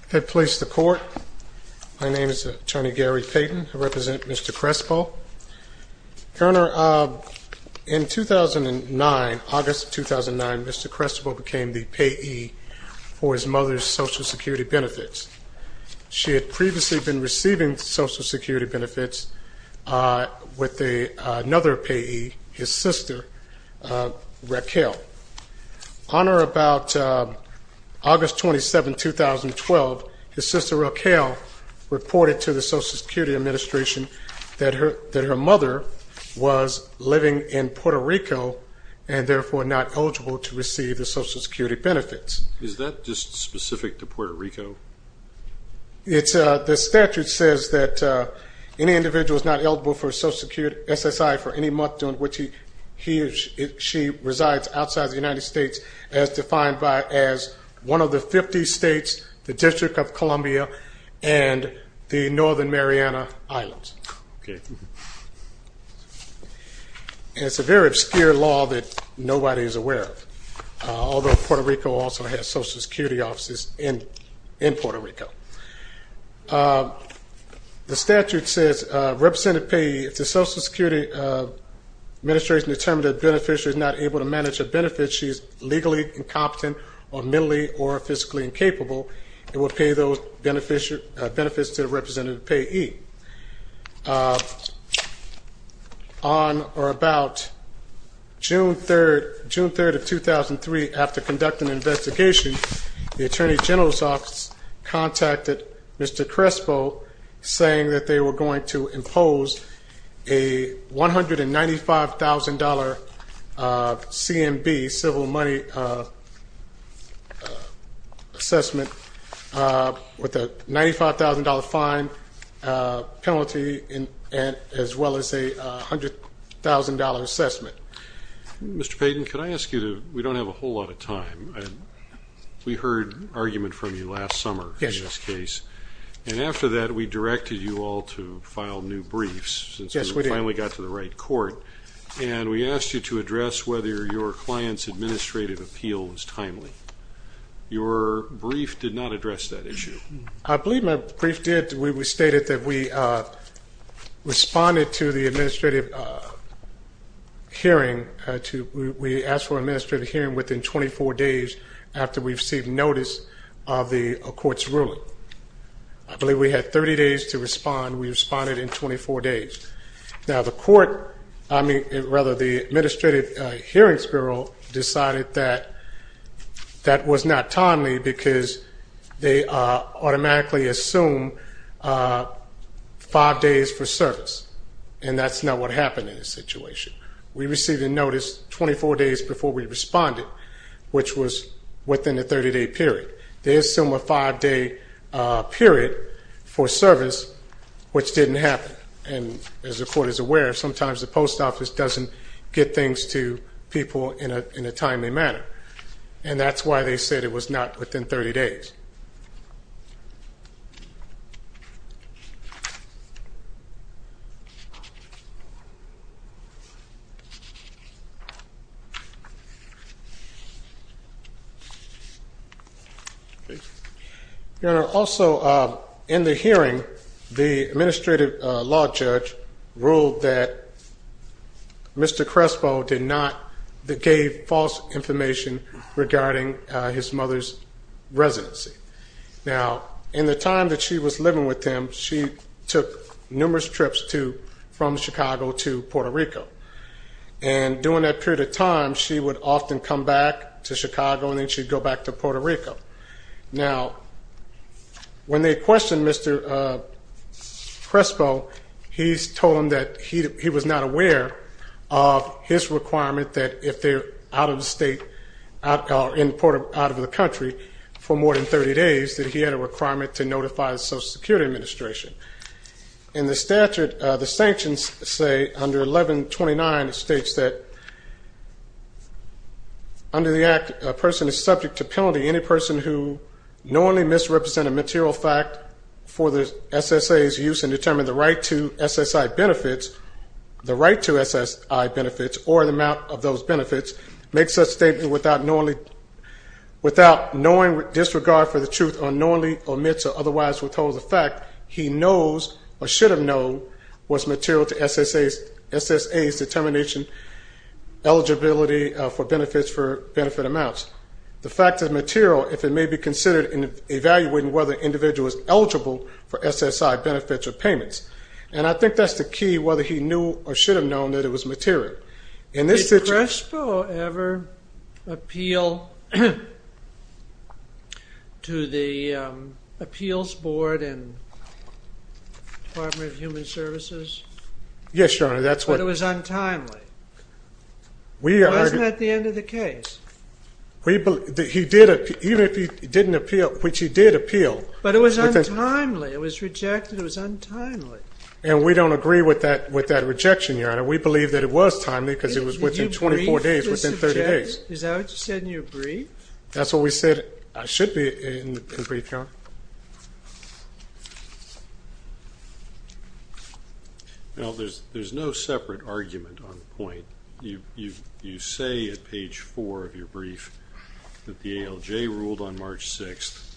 I have placed the court. My name is Attorney Gary Payton. I represent Mr. Crespo. Your Honor, in 2009, August 2009, Mr. Crespo became the payee for his mother's Social Security benefits. She had previously been receiving Social Security benefits with another payee, his sister, Raquel. On or about August 27, 2012, his sister Raquel reported to the Social Security Administration that her mother was living in Puerto Rico and therefore not eligible to receive the Social Security benefits. Is that just specific to Puerto Rico? The statute says that any individual is not eligible for Social Security SSI for any month during which she resides outside the United States as defined as one of the 50 states, the District of Columbia, and the Northern Mariana Islands. It's a very obscure law that nobody is aware of, although Puerto Rico also has Social Security offices in Puerto Rico. The statute says if the Social Security Administration determines that a beneficiary is not able to manage a benefit, she is legally incompetent or mentally or physically incapable and will pay those benefits to the representative payee. On or about June 3, 2003, after conducting an investigation, the Attorney General's Office contacted Mr. Crespo saying that they were going to impose a $195,000 CMB, civil money assessment with a $95,000 fine penalty as well as a $100,000 assessment. Mr. Payton, we don't have a whole lot of time. We heard an argument from you last summer in this case. After that, we directed you all to file new briefs since we finally got to the right court, and we asked you to address whether your client's administrative appeal was timely. Your brief did not address that issue. I believe my brief did. We stated that we responded to the administrative hearing. We asked for an administrative hearing within 24 days after we received notice of the court's ruling. I believe we had 30 days to respond. We responded in 24 days. Now, the administrative hearings bureau decided that that was not timely because they automatically assumed five days for service, and that's not what happened in this situation. We received a notice 24 days before we responded, which was within a 30-day period. They assumed a five-day period for service, which didn't happen. And as the court is aware, sometimes the post office doesn't get things to people in a timely manner, and that's why they said it was not within 30 days. Your Honor, also in the hearing, the administrative law judge ruled that Mr. Crespo gave false information regarding his mother's residency. Now, in the time that she was living with him, she took numerous trips from Chicago to Puerto Rico. And during that period of time, she would often come back to Chicago, and then she'd go back to Puerto Rico. Now, when they questioned Mr. Crespo, he told them that he was not aware of his requirement that if they're out of the state or out of the country for more than 30 days, that he had a requirement to notify the Social Security Administration. In the statute, the sanctions say under 1129 states that under the act, a person is subject to penalty. Any person who knowingly misrepresents a material fact for the SSA's use and determines the right to SSI benefits, the right to SSI benefits or the amount of those benefits, makes such statements without knowingly disregard for the truth or knowingly omits or otherwise withholds the fact he knows or should have known was material to SSA's determination, eligibility for benefits for benefit amounts. The fact is material if it may be considered in evaluating whether an individual is eligible for SSI benefits or payments. And I think that's the key, whether he knew or should have known that it was material. Did Crespo ever appeal to the Appeals Board and Department of Human Services? Yes, Your Honor. But it was untimely. Wasn't that the end of the case? He did appeal, even if he didn't appeal, which he did appeal. But it was untimely. It was rejected. It was untimely. And we don't agree with that rejection, Your Honor. We believe that it was timely because it was within 24 days, within 30 days. Is that what you said in your brief? That's what we said should be in the brief, Your Honor. Well, there's no separate argument on the point. You say at page four of your brief that the ALJ ruled on March 6th,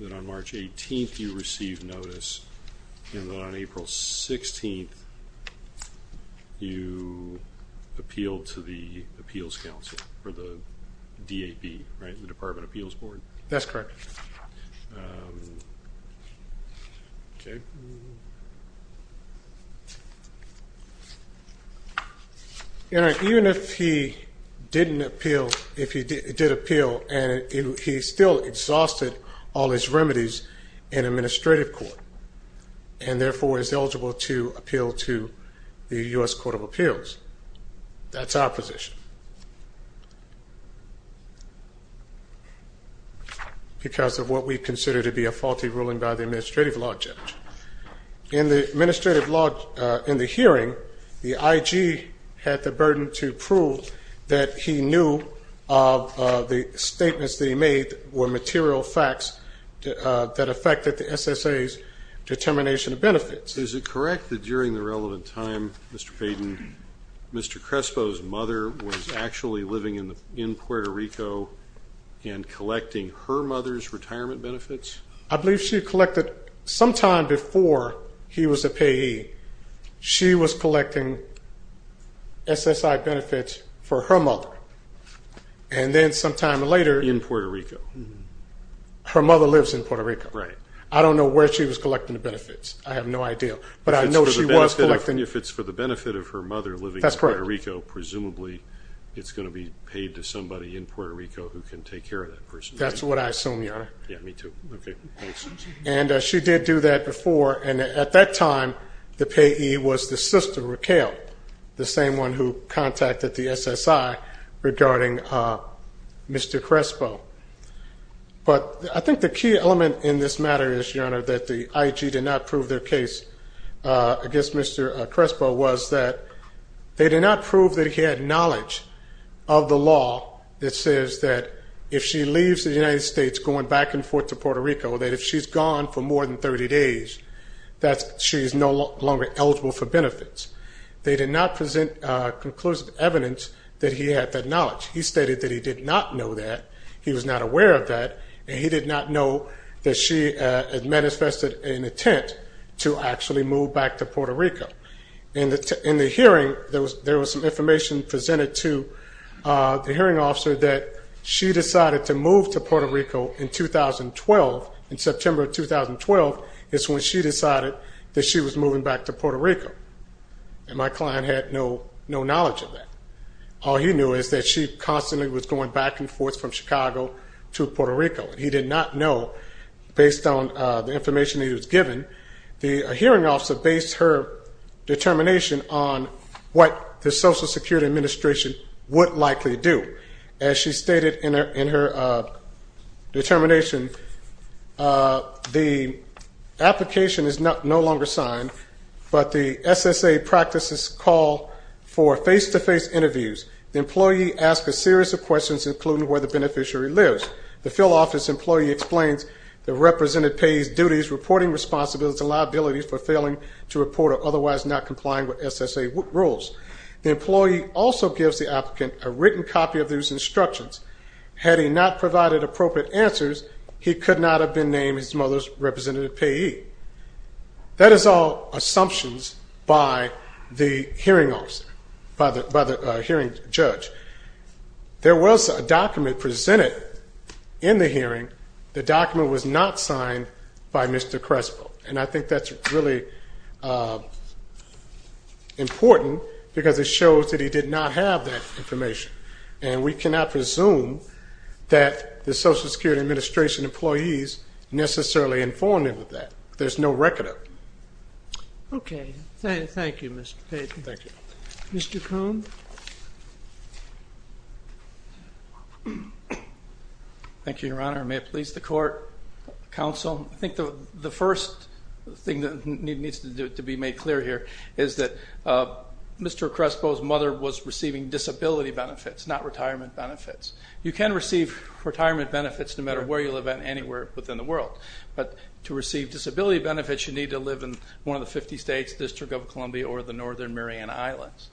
that on March 18th you received notice, and that on April 16th you appealed to the Appeals Council or the DAP, right, the Department of Appeals Board. That's correct. Okay. Your Honor, even if he didn't appeal, if he did appeal, and he still exhausted all his remedies in administrative court, and therefore is eligible to appeal to the U.S. Court of Appeals, that's our position. Because of what we consider to be a faulty ruling by the administrative law judge. In the hearing, the IG had the burden to prove that he knew of the statements that he made were material facts that affected the SSA's determination of benefits. Is it correct that during the relevant time, Mr. Payden, Mr. Crespo's mother was actually living in Puerto Rico and collecting her mother's retirement benefits? I believe she collected, sometime before he was a payee, she was collecting SSI benefits for her mother. And then sometime later. In Puerto Rico. Her mother lives in Puerto Rico. Right. I don't know where she was collecting the benefits. I have no idea. But I know she was collecting. If it's for the benefit of her mother living in Puerto Rico, presumably it's going to be paid to somebody in Puerto Rico who can take care of that person. That's what I assume, Your Honor. Yeah, me too. Okay, thanks. And she did do that before, and at that time, the payee was the sister, Raquel, the same one who contacted the SSI regarding Mr. Crespo. But I think the key element in this matter is, Your Honor, that the IG did not prove their case against Mr. Crespo was that they did not prove that he had knowledge of the law that says that if she leaves the United States going back and forth to Puerto Rico, that if she's gone for more than 30 days, that she is no longer eligible for benefits. They did not present conclusive evidence that he had that knowledge. He stated that he did not know that. He was not aware of that, and he did not know that she had manifested an intent to actually move back to Puerto Rico. In the hearing, there was some information presented to the hearing officer that she decided to move to Puerto Rico in 2012. In September of 2012 is when she decided that she was moving back to Puerto Rico, and my client had no knowledge of that. All he knew is that she constantly was going back and forth from Chicago to Puerto Rico, and he did not know based on the information that he was given. The hearing officer based her determination on what the Social Security Administration would likely do. As she stated in her determination, the application is no longer signed, but the SSA practices call for face-to-face interviews. The employee asks a series of questions, including where the beneficiary lives. The field office employee explains the representative payee's duties, reporting responsibilities, and liabilities for failing to report or otherwise not complying with SSA rules. The employee also gives the applicant a written copy of these instructions. Had he not provided appropriate answers, he could not have been named his mother's representative payee. That is all assumptions by the hearing judge. There was a document presented in the hearing. The document was not signed by Mr. Crespo. And I think that's really important because it shows that he did not have that information. And we cannot presume that the Social Security Administration employees necessarily informed him of that. There's no record of it. Okay. Thank you, Mr. Payton. Thank you. Mr. Cone? Thank you, Your Honor. May it please the Court, Counsel. I think the first thing that needs to be made clear here is that Mr. Crespo's mother was receiving disability benefits, not retirement benefits. You can receive retirement benefits no matter where you live, anywhere within the world. But to receive disability benefits, you need to live in one of the 50 states, District of Columbia, or the Northern Mariana Islands.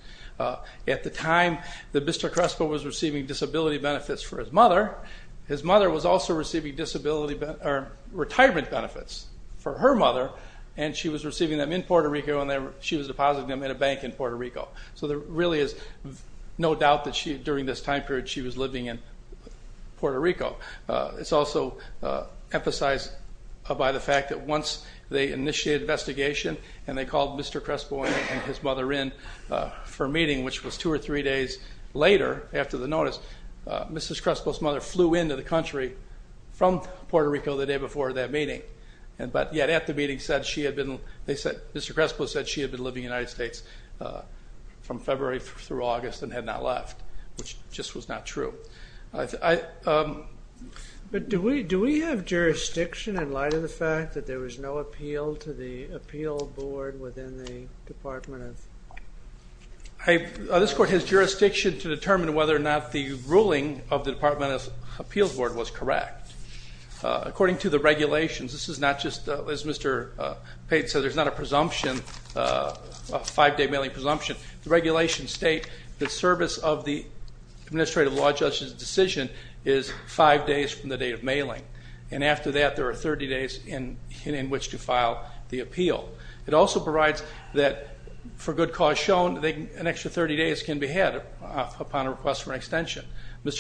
At the time that Mr. Crespo was receiving disability benefits for his mother, his mother was also receiving retirement benefits for her mother, and she was receiving them in Puerto Rico and she was depositing them in a bank in Puerto Rico. So there really is no doubt that during this time period she was living in Puerto Rico. It's also emphasized by the fact that once they initiated an investigation and they called Mr. Crespo and his mother in for a meeting, which was two or three days later after the notice, Mrs. Crespo's mother flew into the country from Puerto Rico the day before that meeting. But yet at the meeting, Mr. Crespo said she had been living in the United States from February through August and had not left, which just was not true. But do we have jurisdiction in light of the fact that there was no appeal to the appeal board within the Department of... This court has jurisdiction to determine whether or not the ruling of the Department of Appeals Board was correct. According to the regulations, this is not just, as Mr. Payton said, there's not a presumption, a five-day mailing presumption. The regulations state the service of the administrative law judge's decision is five days from the date of mailing, and after that there are 30 days in which to file the appeal. It also provides that for good cause shown, an extra 30 days can be had upon a request for an extension. The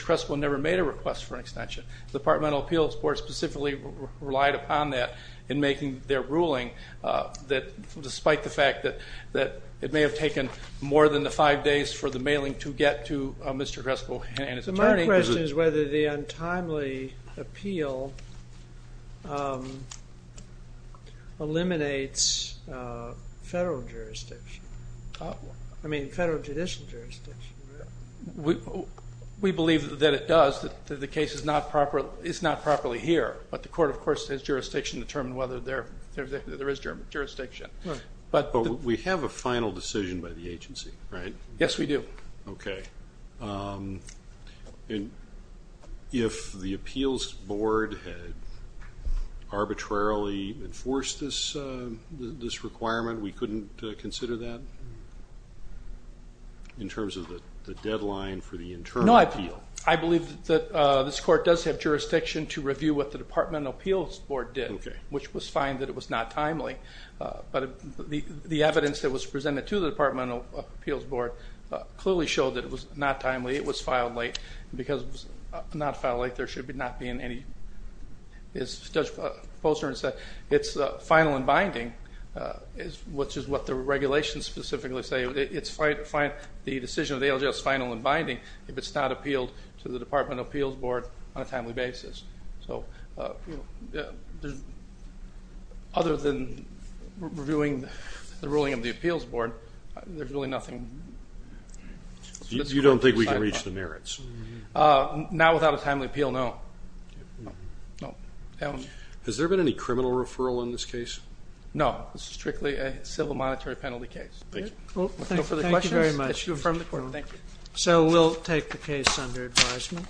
Department of Appeals Board specifically relied upon that in making their ruling, despite the fact that it may have taken more than the five days for the mailing to get to Mr. Crespo and his attorney. So my question is whether the untimely appeal eliminates federal jurisdiction, I mean federal judicial jurisdiction. We believe that it does, that the case is not properly here, but the court, of course, has jurisdiction to determine whether there is jurisdiction. But we have a final decision by the agency, right? Yes, we do. Okay. And if the appeals board had arbitrarily enforced this requirement, we couldn't consider that? In terms of the deadline for the internal appeal? No, I believe that this court does have jurisdiction to review what the Department of Appeals Board did, which was fine that it was not timely. But the evidence that was presented to the Department of Appeals Board clearly showed that it was not timely, it was filed late, and because it was not filed late, there should not be any. As Judge Posner said, it's final and binding, which is what the regulations specifically say. The decision of the ALJ is final and binding if it's not appealed to the Department of Appeals Board on a timely basis. So other than reviewing the ruling of the appeals board, there's really nothing. You don't think we can reach the merits? Not without a timely appeal, no. Has there been any criminal referral in this case? No, this is strictly a civil monetary penalty case. Thank you. No further questions? Thank you very much. Thank you. So we'll take the case under advisement.